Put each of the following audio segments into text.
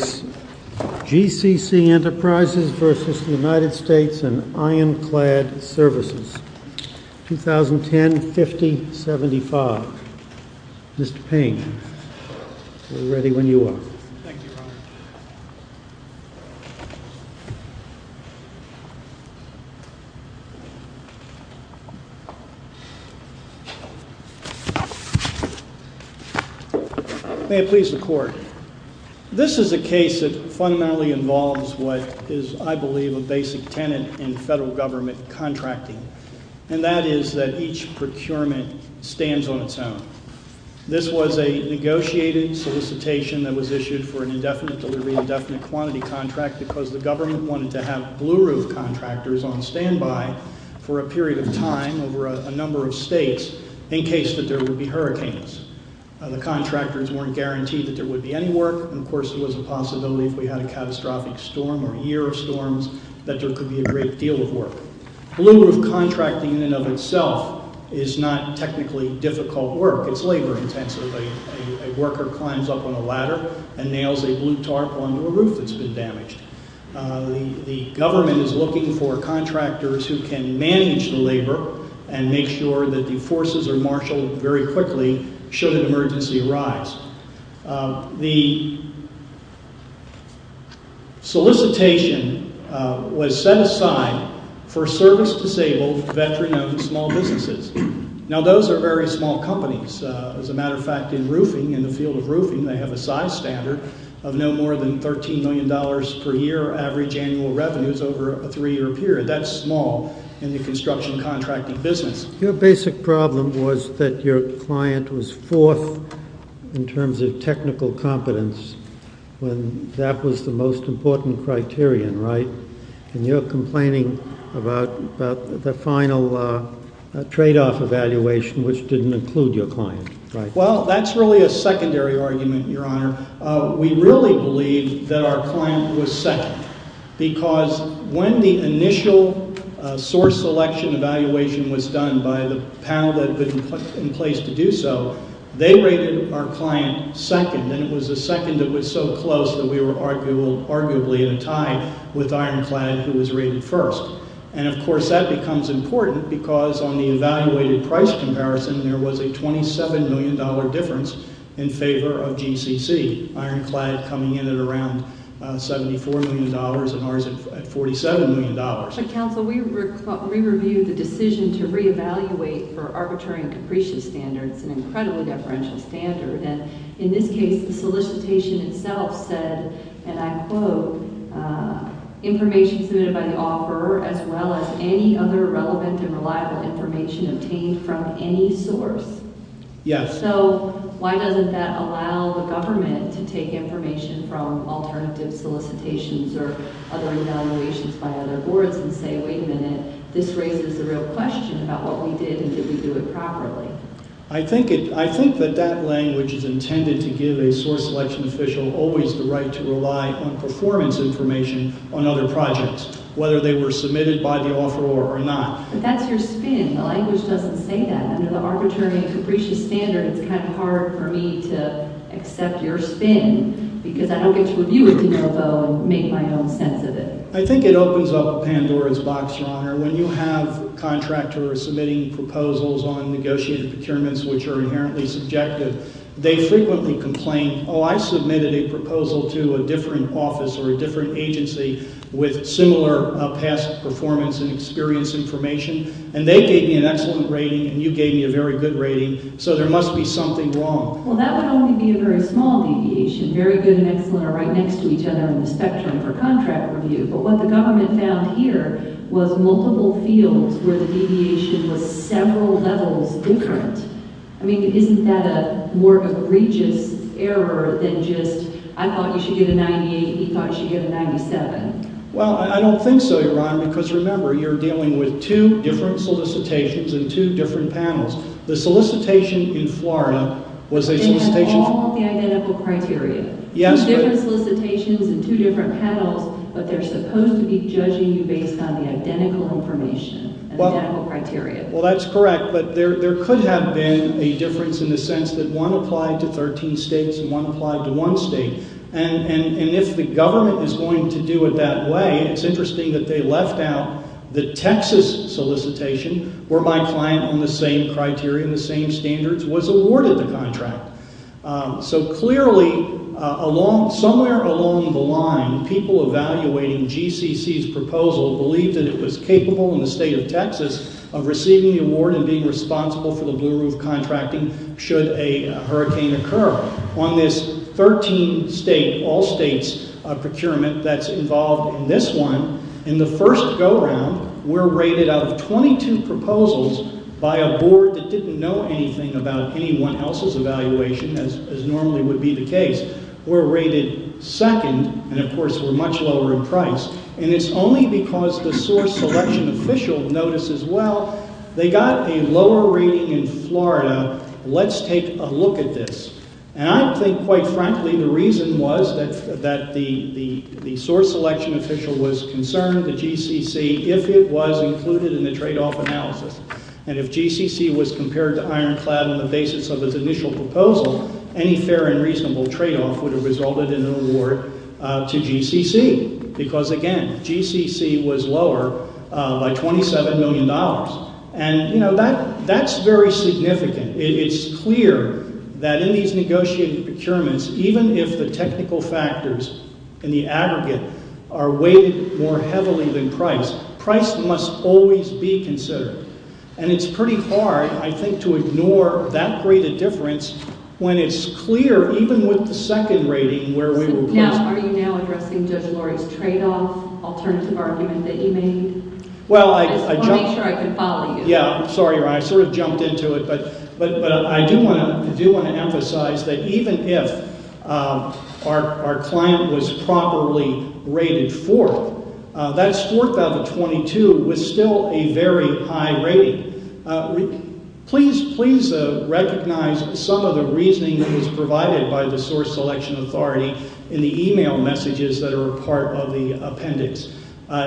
GCC ENTERPRISES v. United States and Ironclad Services 2010-50-75 Mr. Payne, we're ready when you are. Thank you, Your Honor. May it please the Court. This is a case that fundamentally involves what is, I believe, a basic tenet in federal government contracting, and that is that each procurement stands on its own. This was a negotiated solicitation that was issued for an indefinite delivery, indefinite quantity contract because the government wanted to have blue-roof contractors on standby for a period of time over a number of states in case that there would be hurricanes. The contractors weren't guaranteed that there would be any work, and of course there was a possibility if we had a catastrophic storm or a year of storms that there could be a great deal of work. Blue-roof contracting in and of itself is not technically difficult work. It's labor-intensive. A worker climbs up on a ladder and nails a blue tarp onto a roof that's been damaged. The government is looking for contractors who can manage the labor and make sure that the forces are marshaled very quickly should an emergency arise. The solicitation was set aside for service-disabled, veteran-owned small businesses. Now those are very small companies. As a matter of fact, in roofing, in the field of roofing, they have a size standard of no more than $13 million per year average annual revenues over a three-year period. That's small in the construction contracting business. Your basic problem was that your client was fourth in terms of technical competence when that was the most important criterion, right? And you're complaining about the final tradeoff evaluation which didn't include your client, right? Well, that's really a secondary argument, Your Honor. We really believe that our client was second because when the initial source selection evaluation was done by the panel that had been in place to do so, they rated our client second, and it was the second that was so close that we were arguably in a tie with Ironclad who was rated first. And, of course, that becomes important because on the evaluated price comparison, there was a $27 million difference in favor of GCC, Ironclad coming in at around $74 million and ours at $47 million. But, counsel, we re-reviewed the decision to re-evaluate for arbitrary and capricious standards, an incredibly deferential standard, and in this case, the solicitation itself said, and I quote, information submitted by the offeror as well as any other relevant and reliable information obtained from any source. Yes. So why doesn't that allow the government to take information from alternative solicitations or other evaluations by other boards and say, wait a minute, this raises the real question about what we did and did we do it properly? I think that that language is intended to give a source selection official always the right to rely on performance information on other projects, whether they were submitted by the offeror or not. But that's your spin. The language doesn't say that. Under the arbitrary and capricious standard, it's kind of hard for me to accept your spin because I don't get to review it to make my own sense of it. I think it opens up Pandora's box, Your Honor. When you have contractors submitting proposals on negotiated procurements which are inherently subjective, they frequently complain, oh, I submitted a proposal to a different office or a different agency with similar past performance and experience information, and they gave me an excellent rating and you gave me a very good rating, so there must be something wrong. Well, that would only be a very small deviation, very good and excellent are right next to each other on the spectrum for contract review. But what the government found here was multiple fields where the deviation was several levels different. I mean, isn't that a more egregious error than just I thought you should get a 98, he thought you should get a 97? Well, I don't think so, Your Honor, because remember, you're dealing with two different solicitations and two different panels. The solicitation in Florida was a solicitation for- They had all the identical criteria. Yes, but- Two different solicitations and two different panels, but they're supposed to be judging you based on the identical information and identical criteria. Well, that's correct, but there could have been a difference in the sense that one applied to 13 states and one applied to one state. And if the government is going to do it that way, it's interesting that they left out the Texas solicitation, where my client on the same criteria and the same standards was awarded the contract. So clearly, somewhere along the line, people evaluating GCC's proposal believed that it was capable in the state of Texas of receiving the award and being responsible for the blue roof contracting should a hurricane occur. On this 13-state, all-states procurement that's involved in this one, in the first go-round, we're rated out of 22 proposals by a board that didn't know anything about anyone else's evaluation, as normally would be the case. We're rated second, and of course, we're much lower in price. And it's only because the source selection official notices, well, they got a lower rating in Florida, let's take a look at this. And I think, quite frankly, the reason was that the source selection official was concerned that GCC, if it was included in the tradeoff analysis, and if GCC was compared to Ironclad on the basis of its initial proposal, any fair and reasonable tradeoff would have resulted in an award to GCC. Because again, GCC was lower by $27 million. And, you know, that's very significant. It's clear that in these negotiated procurements, even if the technical factors and the aggregate are weighted more heavily than price, price must always be considered. And it's pretty hard, I think, to ignore that great a difference when it's clear, even with the second rating where we were placed. Are you now addressing Judge Lori's tradeoff alternative argument that you made? I just want to make sure I can follow you. Yeah, I'm sorry, Ron. I sort of jumped into it. But I do want to emphasize that even if our client was properly rated 4th, that 4th out of the 22 was still a very high rating. Please recognize some of the reasoning that was provided by the source selection authority in the e-mail messages that are a part of the appendix.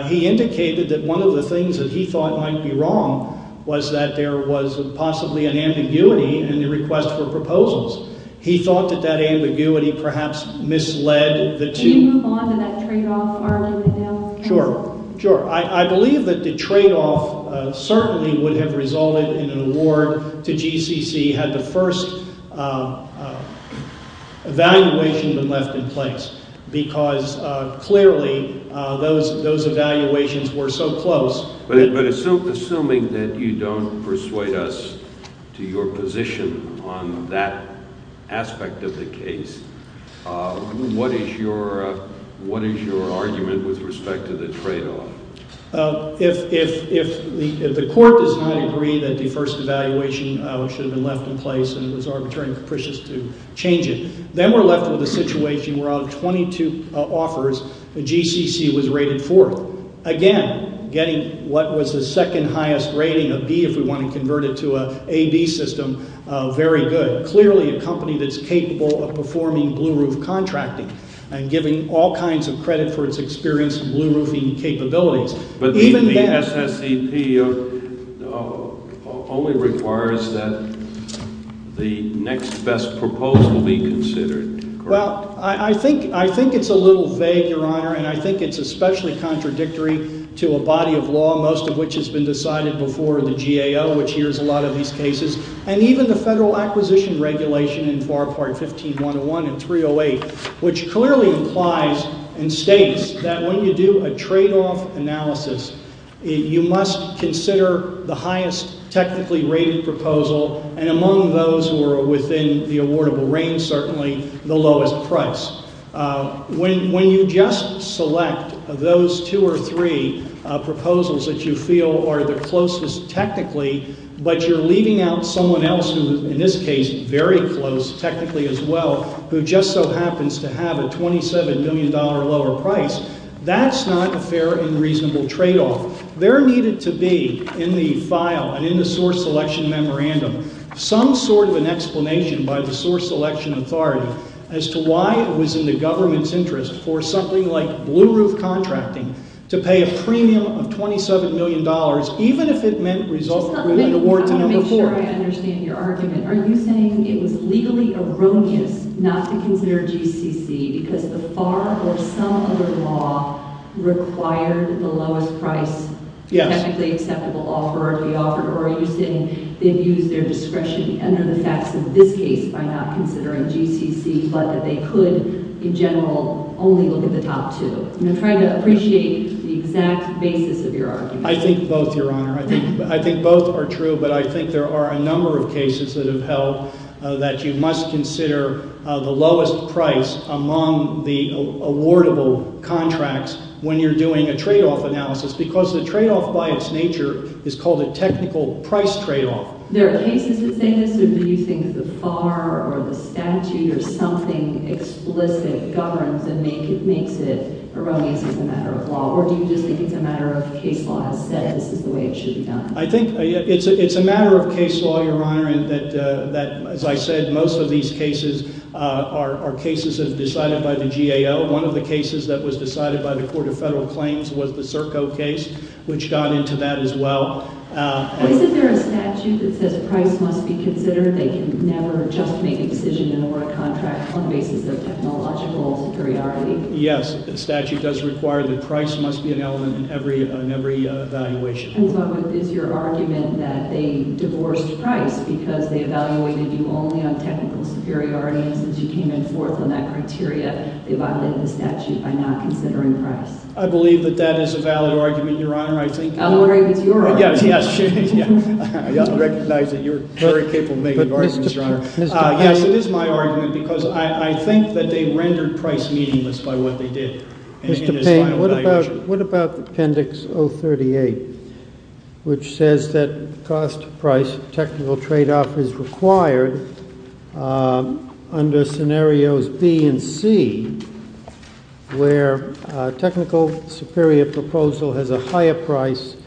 He indicated that one of the things that he thought might be wrong was that there was possibly an ambiguity in the request for proposals. He thought that that ambiguity perhaps misled the two. Can you move on to that tradeoff? Sure. Sure. I believe that the tradeoff certainly would have resulted in an award to GCC had the first evaluation been left in place because clearly those evaluations were so close. But assuming that you don't persuade us to your position on that aspect of the case, what is your argument with respect to the tradeoff? If the court does not agree that the first evaluation should have been left in place and it was arbitrary and capricious to change it, then we're left with a situation where out of 22 offers, GCC was rated 4th. Again, getting what was the second highest rating of B if we want to convert it to an AB system, very good. Clearly a company that's capable of performing blue-roof contracting and giving all kinds of credit for its experienced blue-roofing capabilities. Even then— But the SSEP only requires that the next best proposal be considered, correct? Well, I think it's a little vague, Your Honor, and I think it's especially contradictory to a body of law, most of which has been decided before the GAO, which hears a lot of these cases. And even the Federal Acquisition Regulation in FAR Part 15-101 and 308, which clearly implies and states that when you do a tradeoff analysis, you must consider the highest technically rated proposal and among those who are within the awardable range, certainly the lowest price. When you just select those two or three proposals that you feel are the closest technically, but you're leaving out someone else who, in this case, very close technically as well, who just so happens to have a $27 million lower price, that's not a fair and reasonable tradeoff. There needed to be in the file and in the source selection memorandum some sort of an explanation by the source selection authority as to why it was in the government's interest for something like blue-roof contracting to pay a premium of $27 million, even if it meant— I just want to make sure I understand your argument. Are you saying it was legally erroneous not to consider GCC because the FAR or some other law required the lowest price technically acceptable offer to be offered? Or are you saying they've used their discretion under the facts of this case by not considering GCC, but that they could, in general, only look at the top two? I'm trying to appreciate the exact basis of your argument. I think both, Your Honor. I think both are true, but I think there are a number of cases that have held that you must consider the lowest price among the awardable contracts when you're doing a tradeoff analysis because the tradeoff by its nature is called a technical price tradeoff. There are cases that say this, or do you think the FAR or the statute or something explicit governs and makes it erroneous as a matter of law? Or do you just think it's a matter of case law that says this is the way it should be done? I think it's a matter of case law, Your Honor, in that, as I said, most of these cases are cases that are decided by the GAO. One of the cases that was decided by the Court of Federal Claims was the Serco case, which got into that as well. Isn't there a statute that says price must be considered? They can never just make a decision in an award contract on the basis of technological superiority? Yes, the statute does require that price must be an element in every evaluation. And so is your argument that they divorced price because they evaluated you only on technical superiority, and since you came in fourth on that criteria, they violated the statute by not considering price? I believe that that is a valid argument, Your Honor. I'm worried it's your argument. Yes, it is my argument, because I think that they rendered price meaningless by what they did. Mr. Payne, what about Appendix 038, which says that cost price technical tradeoff is required under scenarios B and C, where technical superior proposal has a higher price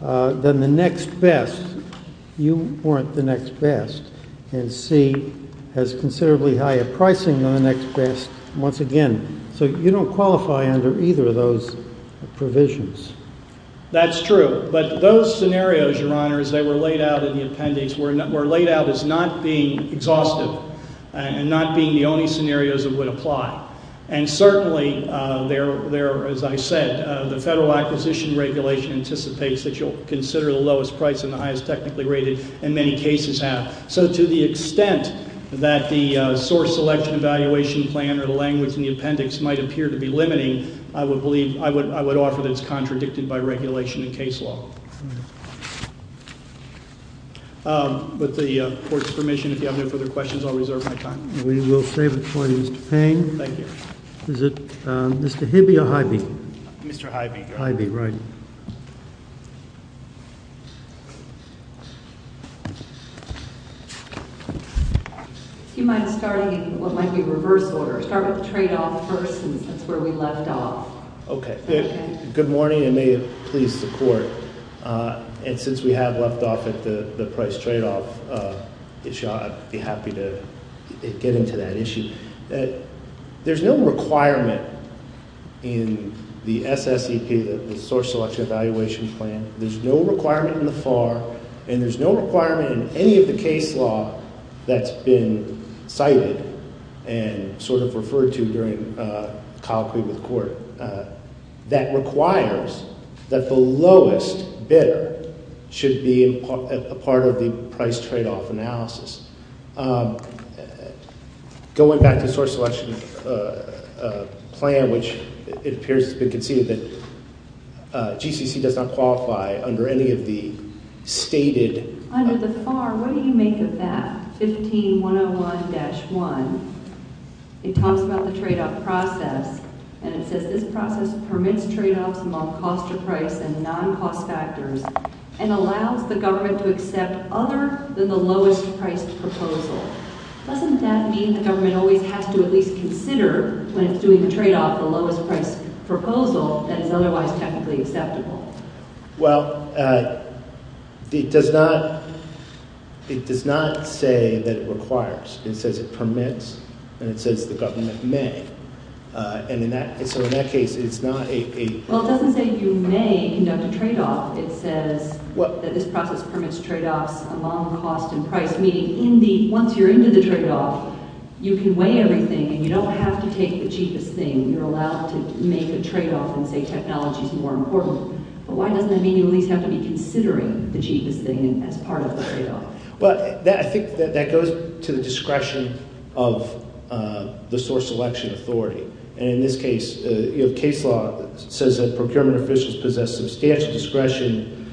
than the next best. That's true, but those scenarios, Your Honor, as they were laid out in the appendix, were laid out as not being exhaustive and not being the only scenarios that would apply. And certainly, as I said, the Federal Acquisition Regulation anticipates that you'll consider the lowest price and the highest price, and that's not the case. So to the extent that the source selection evaluation plan or the language in the appendix might appear to be limiting, I would offer that it's contradicted by regulation in case law. With the Court's permission, if you have no further questions, I'll reserve my time. We will save it for Mr. Payne. Thank you. Is it Mr. Hibby or Hibby? Mr. Hibby. Hibby, right. Thank you. Do you mind starting in what might be reverse order? Start with the tradeoff first since that's where we left off. Okay. Good morning, and may it please the Court, and since we have left off at the price tradeoff issue, I'd be happy to get into that issue. There's no requirement in the SSEP, the source selection evaluation plan, there's no requirement in the FAR, and there's no requirement in any of the case law that's been cited and sort of referred to during colloquy with the Court, that requires that the lowest bidder should be a part of the price tradeoff analysis. Going back to the source selection plan, which it appears has been conceded that GCC does not qualify under any of the stated Under the FAR, what do you make of that, 15-101-1? It talks about the tradeoff process, and it says, This process permits tradeoffs among cost-to-price and non-cost factors and allows the government to accept other than the lowest-priced proposal. Doesn't that mean the government always has to at least consider, when it's doing the tradeoff, the lowest-priced proposal that is otherwise technically acceptable? Well, it does not say that it requires. It says it permits, and it says the government may. So in that case, it's not a... Well, it doesn't say you may conduct a tradeoff. It says that this process permits tradeoffs among cost and price, meaning once you're into the tradeoff, you can weigh everything, and you don't have to take the cheapest thing. You're allowed to make a tradeoff and say technology's more important. But why doesn't that mean you at least have to be considering the cheapest thing as part of the tradeoff? Well, I think that goes to the discretion of the source selection authority. And in this case, case law says that procurement officials possess substantial discretion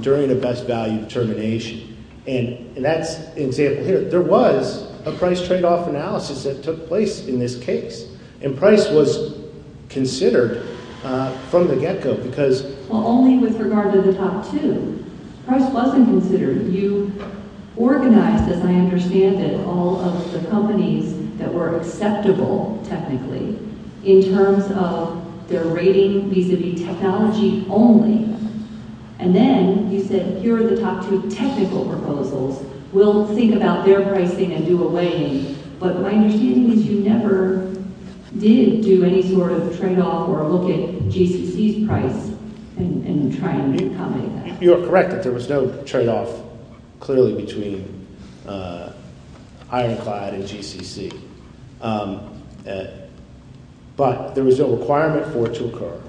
during a best-value determination. And that's an example here. There was a price tradeoff analysis that took place in this case, and price was considered from the get-go because... Well, only with regard to the top two. Price wasn't considered. You organized, as I understand it, all of the companies that were acceptable technically in terms of their rating vis-a-vis technology only. And then you said, here are the top two technical proposals. We'll think about their pricing and do a weighing. But my understanding is you never did do any sort of tradeoff or look at GCC's price and try and accommodate that. You are correct that there was no tradeoff clearly between Ironclad and GCC. But there was no requirement for it to occur.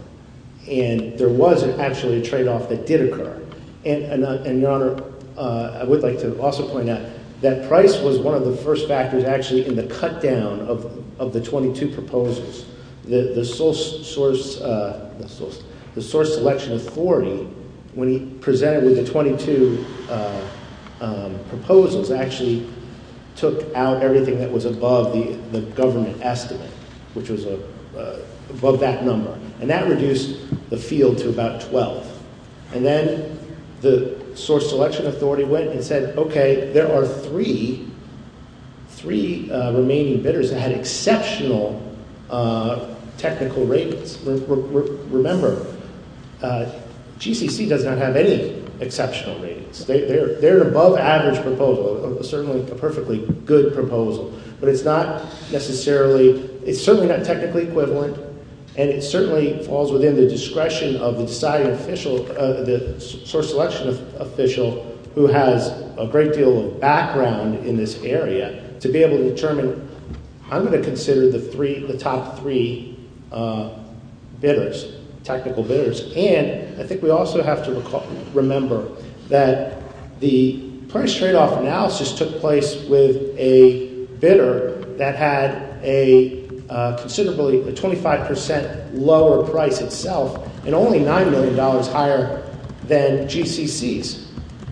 And there was actually a tradeoff that did occur. And, Your Honor, I would like to also point out that price was one of the first factors actually in the cut-down of the 22 proposals. The source selection authority, when he presented with the 22 proposals, actually took out everything that was above the government estimate, which was above that number. And that reduced the field to about 12. And then the source selection authority went and said, okay, there are three remaining bidders that had exceptional technical ratings. Remember, GCC does not have any exceptional ratings. They're an above-average proposal, certainly a perfectly good proposal. But it's not necessarily – it's certainly not technically equivalent. And it certainly falls within the discretion of the deciding official, the source selection official, who has a great deal of background in this area, to be able to determine I'm going to consider the top three bidders, technical bidders. And I think we also have to remember that the price tradeoff analysis took place with a bidder that had a considerably – a 25 percent lower price itself and only $9 million higher than GCC's.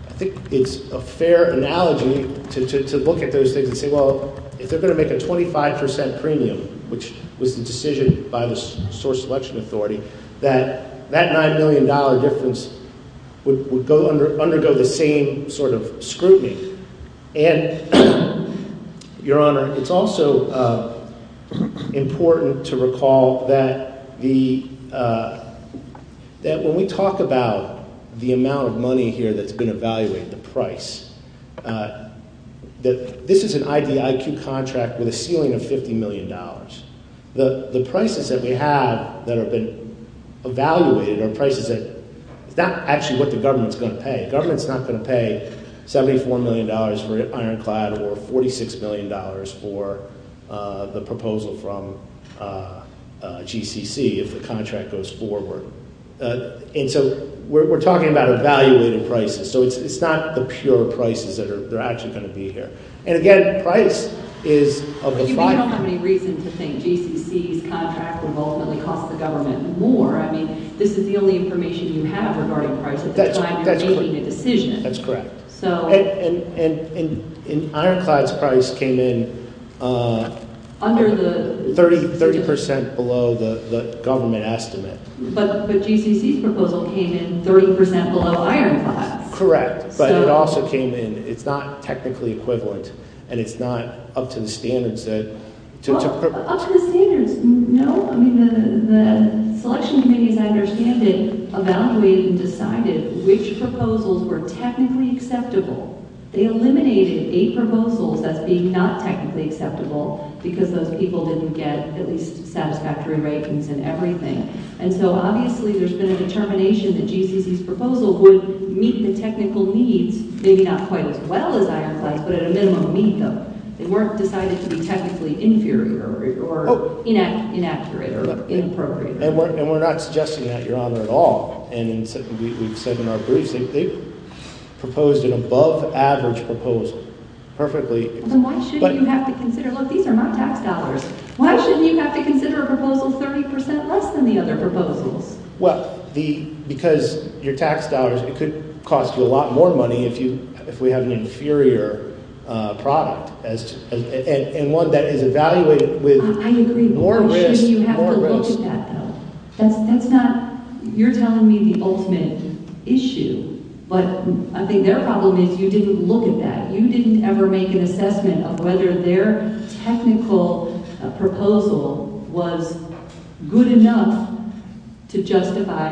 I think it's a fair analogy to look at those things and say, well, if they're going to make a 25 percent premium, which was the decision by the source selection authority, that that $9 million difference would undergo the same sort of scrutiny. And, Your Honor, it's also important to recall that the – that when we talk about the amount of money here that's been evaluated, the price, this is an IDIQ contract with a ceiling of $50 million. The prices that we have that have been evaluated are prices that – it's not actually what the government's going to pay. The government's not going to pay $74 million for ironclad or $46 million for the proposal from GCC if the contract goes forward. And so we're talking about evaluated prices. So it's not the pure prices that are actually going to be here. And, again, price is – You don't have any reason to think GCC's contract revolvementally costs the government more. I mean this is the only information you have regarding price at the time you're making a decision. That's correct. So – And ironclad's price came in – Under the – 30 percent below the government estimate. But GCC's proposal came in 30 percent below ironclad's. Correct. But it also came in – it's not technically equivalent and it's not up to the standards that – Well, up to the standards, no. I mean the selection committee, as I understand it, evaluated and decided which proposals were technically acceptable. They eliminated eight proposals as being not technically acceptable because those people didn't get at least satisfactory ratings and everything. And so obviously there's been a determination that GCC's proposal would meet the technical needs. Maybe not quite as well as ironclad's, but at a minimum meet them. It weren't decided to be technically inferior or inaccurate or inappropriate. And we're not suggesting that, Your Honor, at all. And we've said in our briefs they proposed an above average proposal perfectly – Then why should you have to consider – look, these are not tax dollars. Why shouldn't you have to consider a proposal 30 percent less than the other proposals? Well, because your tax dollars – it could cost you a lot more money if we have an inferior product and one that is evaluated with more risk. I agree. Why shouldn't you have to look at that, though? That's not – you're telling me the ultimate issue. But I think their problem is you didn't look at that. You didn't ever make an assessment of whether their technical proposal was good enough to justify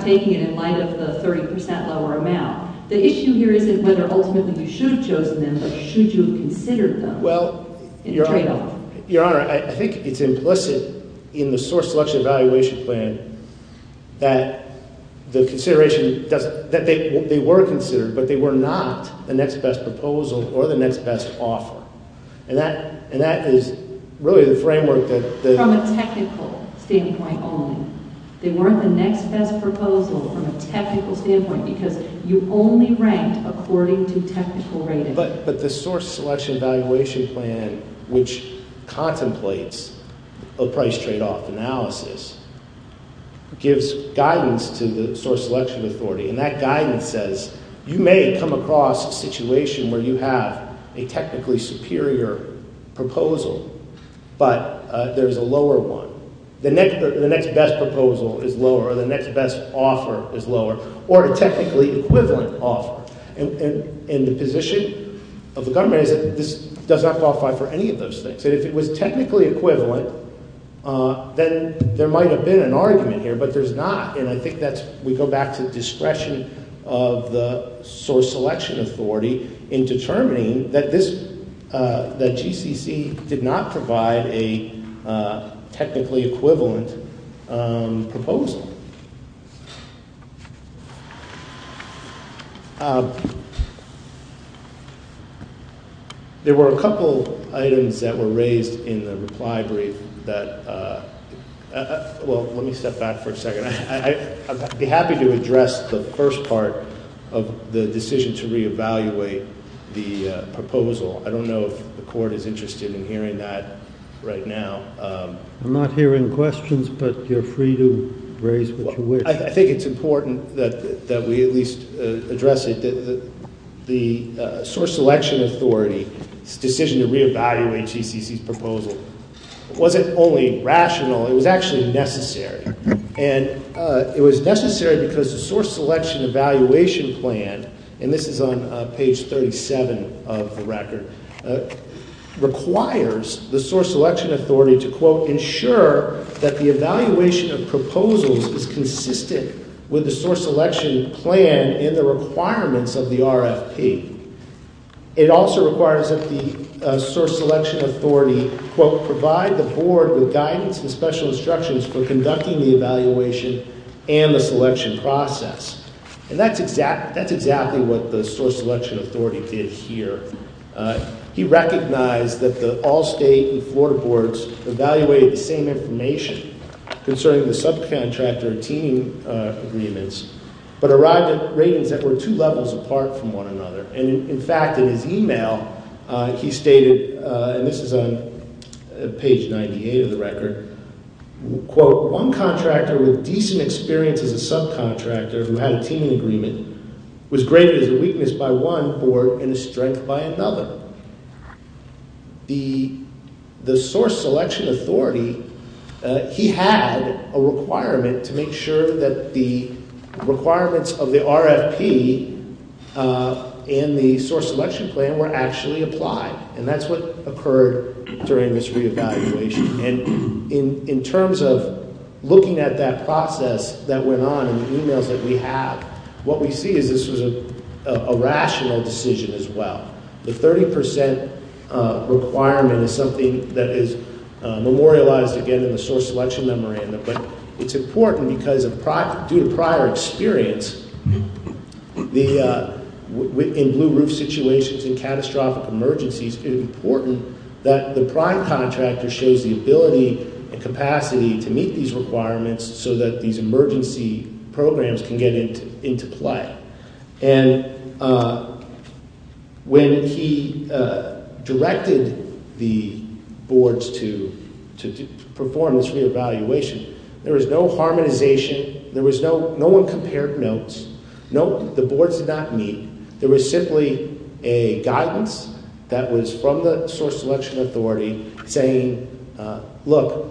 taking it in light of the 30 percent lower amount. The issue here isn't whether ultimately you should have chosen them, but should you have considered them? Well, Your Honor, I think it's implicit in the source selection evaluation plan that the consideration – that they were considered, but they were not the next best proposal or the next best offer. And that is really the framework that – From a technical standpoint only. They weren't the next best proposal from a technical standpoint because you only ranked according to technical rating. But the source selection evaluation plan, which contemplates a price tradeoff analysis, gives guidance to the source selection authority. And that guidance says you may come across a situation where you have a technically superior proposal, but there's a lower one. The next best proposal is lower or the next best offer is lower or a technically equivalent offer. And the position of the government is that this does not qualify for any of those things. And if it was technically equivalent, then there might have been an argument here, but there's not. And I think that's – we go back to discretion of the source selection authority in determining that this – that GCC did not provide a technically equivalent proposal. There were a couple items that were raised in the reply brief that – well, let me step back for a second. I'd be happy to address the first part of the decision to reevaluate the proposal. I don't know if the Court is interested in hearing that right now. I'm not hearing questions, but you're free to raise what you wish. I think it's important that we at least address it. The source selection authority's decision to reevaluate GCC's proposal wasn't only rational. It was actually necessary. And it was necessary because the source selection evaluation plan – and this is on page 37 of the record – requires the source selection authority to, quote, ensure that the evaluation of proposals is consistent with the source selection plan and the requirements of the RFP. It also requires that the source selection authority, quote, provide the Board with guidance and special instructions for conducting the evaluation and the selection process. And that's exactly what the source selection authority did here. He recognized that the Allstate and Florida boards evaluated the same information concerning the subcontractor team agreements, but arrived at ratings that were two levels apart from one another. And, in fact, in his email, he stated – and this is on page 98 of the record – quote, one contractor with decent experience as a subcontractor who had a teaming agreement was graded as a weakness by one board and a strength by another. The source selection authority, he had a requirement to make sure that the requirements of the RFP and the source selection plan were actually applied. And that's what occurred during this reevaluation. And in terms of looking at that process that went on in the emails that we have, what we see is this was a rational decision as well. The 30 percent requirement is something that is memorialized, again, in the source selection memorandum. But it's important because due to prior experience in blue roof situations and catastrophic emergencies, it's important that the prime contractor shows the ability and capacity to meet these requirements so that these emergency programs can get into play. And when he directed the boards to perform this reevaluation, there was no harmonization. There was no – no one compared notes. The boards did not meet. There was simply a guidance that was from the source selection authority saying, look,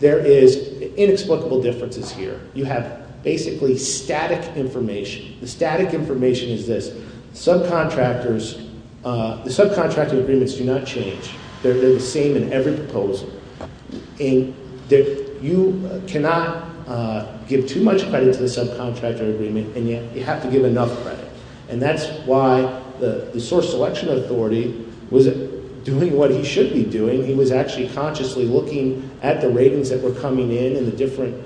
there is inexplicable differences here. You have basically static information. The static information is this. Subcontractors – the subcontractor agreements do not change. They're the same in every proposal. And you cannot give too much credit to the subcontractor agreement, and yet you have to give enough credit. And that's why the source selection authority wasn't doing what he should be doing. He was actually consciously looking at the ratings that were coming in and the different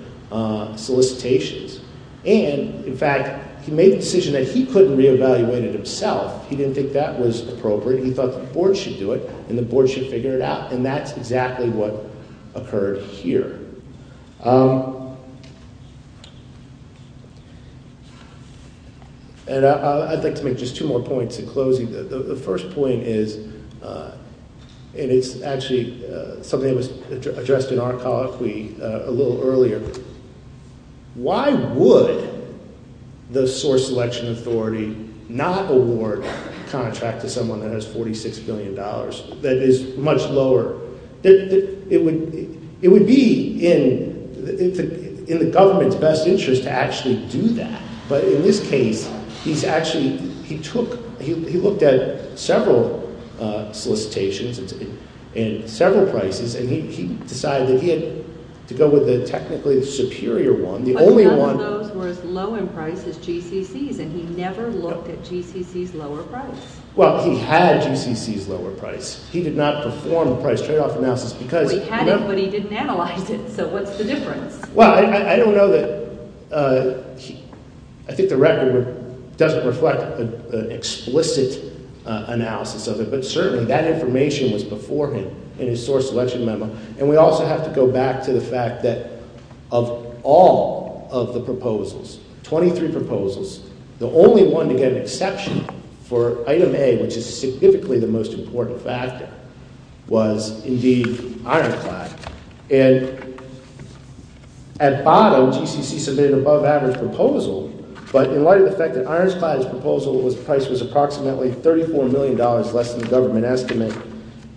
solicitations. And, in fact, he made the decision that he couldn't reevaluate it himself. He didn't think that was appropriate. He thought the board should do it and the board should figure it out. And that's exactly what occurred here. And I'd like to make just two more points in closing. The first point is – and it's actually something that was addressed in our colloquy a little earlier. Why would the source selection authority not award a contract to someone that has $46 billion, that is much lower? It would be in the government's best interest to actually do that. But in this case, he's actually – he took – he looked at several solicitations and several prices, and he decided that he had to go with the technically superior one. The only one – But none of those were as low in price as GCC's, and he never looked at GCC's lower price. Well, he had GCC's lower price. He did not perform the price tradeoff analysis because – Well, he had it, but he didn't analyze it. So what's the difference? Well, I don't know that – I think the record doesn't reflect an explicit analysis of it, but certainly that information was before him in his source selection memo. And we also have to go back to the fact that of all of the proposals, 23 proposals, the only one to get an exception for item A, which is significantly the most important factor, was indeed Ironclad. And at bottom, GCC submitted an above-average proposal, but in light of the fact that Ironclad's proposal was – price was approximately $34 million less than the government estimate,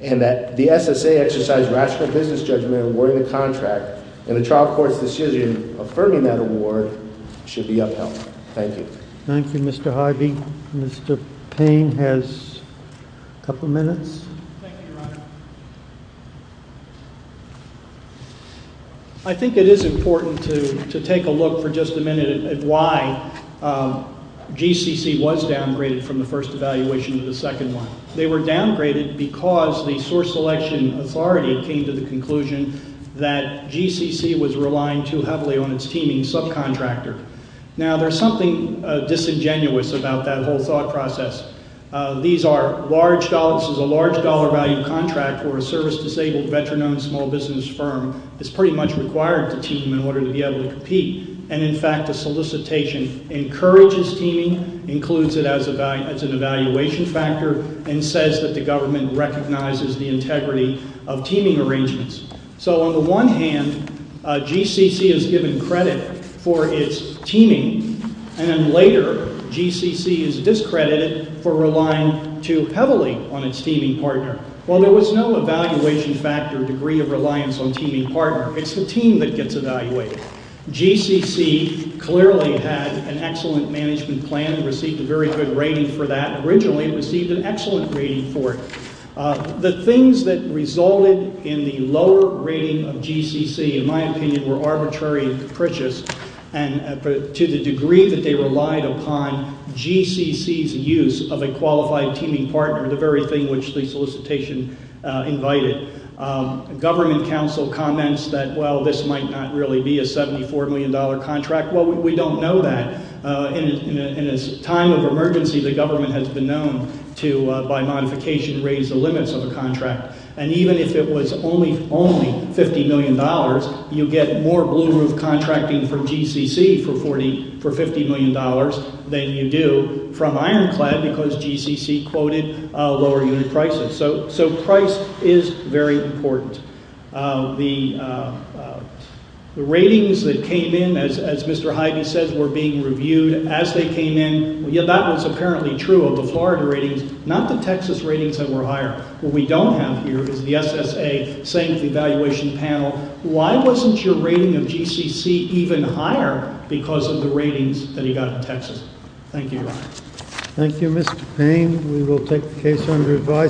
and that the SSA exercised rational business judgment in awarding the contract, and the trial court's decision affirming that award should be upheld. Thank you. Thank you, Mr. Harvey. Mr. Payne has a couple minutes. Thank you, Your Honor. I think it is important to take a look for just a minute at why GCC was downgraded from the first evaluation to the second one. They were downgraded because the source selection authority came to the conclusion that GCC was relying too heavily on its teaming subcontractor. Now, there's something disingenuous about that whole thought process. These are large – this is a large dollar value contract where a service-disabled veteran-owned small business firm is pretty much required to team in order to be able to compete. And, in fact, the solicitation encourages teaming, includes it as an evaluation factor, and says that the government recognizes the integrity of teaming arrangements. So, on the one hand, GCC is given credit for its teaming, and then later GCC is discredited for relying too heavily on its teaming partner. Well, there was no evaluation factor degree of reliance on teaming partner. It's the team that gets evaluated. GCC clearly had an excellent management plan, received a very good rating for that. Originally, it received an excellent rating for it. The things that resulted in the lower rating of GCC, in my opinion, were arbitrary and capricious to the degree that they relied upon GCC's use of a qualified teaming partner, the very thing which the solicitation invited. Government counsel comments that, well, this might not really be a $74 million contract. Well, we don't know that. In a time of emergency, the government has been known to, by modification, raise the limits of a contract. And even if it was only $50 million, you get more blue-roof contracting from GCC for $50 million than you do from Ironclad because GCC quoted lower unit prices. So price is very important. The ratings that came in, as Mr. Hyde says, were being reviewed as they came in. That was apparently true of the Florida ratings, not the Texas ratings that were higher. What we don't have here is the SSA saying to the evaluation panel, why wasn't your rating of GCC even higher because of the ratings that he got in Texas? Thank you. Thank you, Mr. Payne. We will take the case under advice.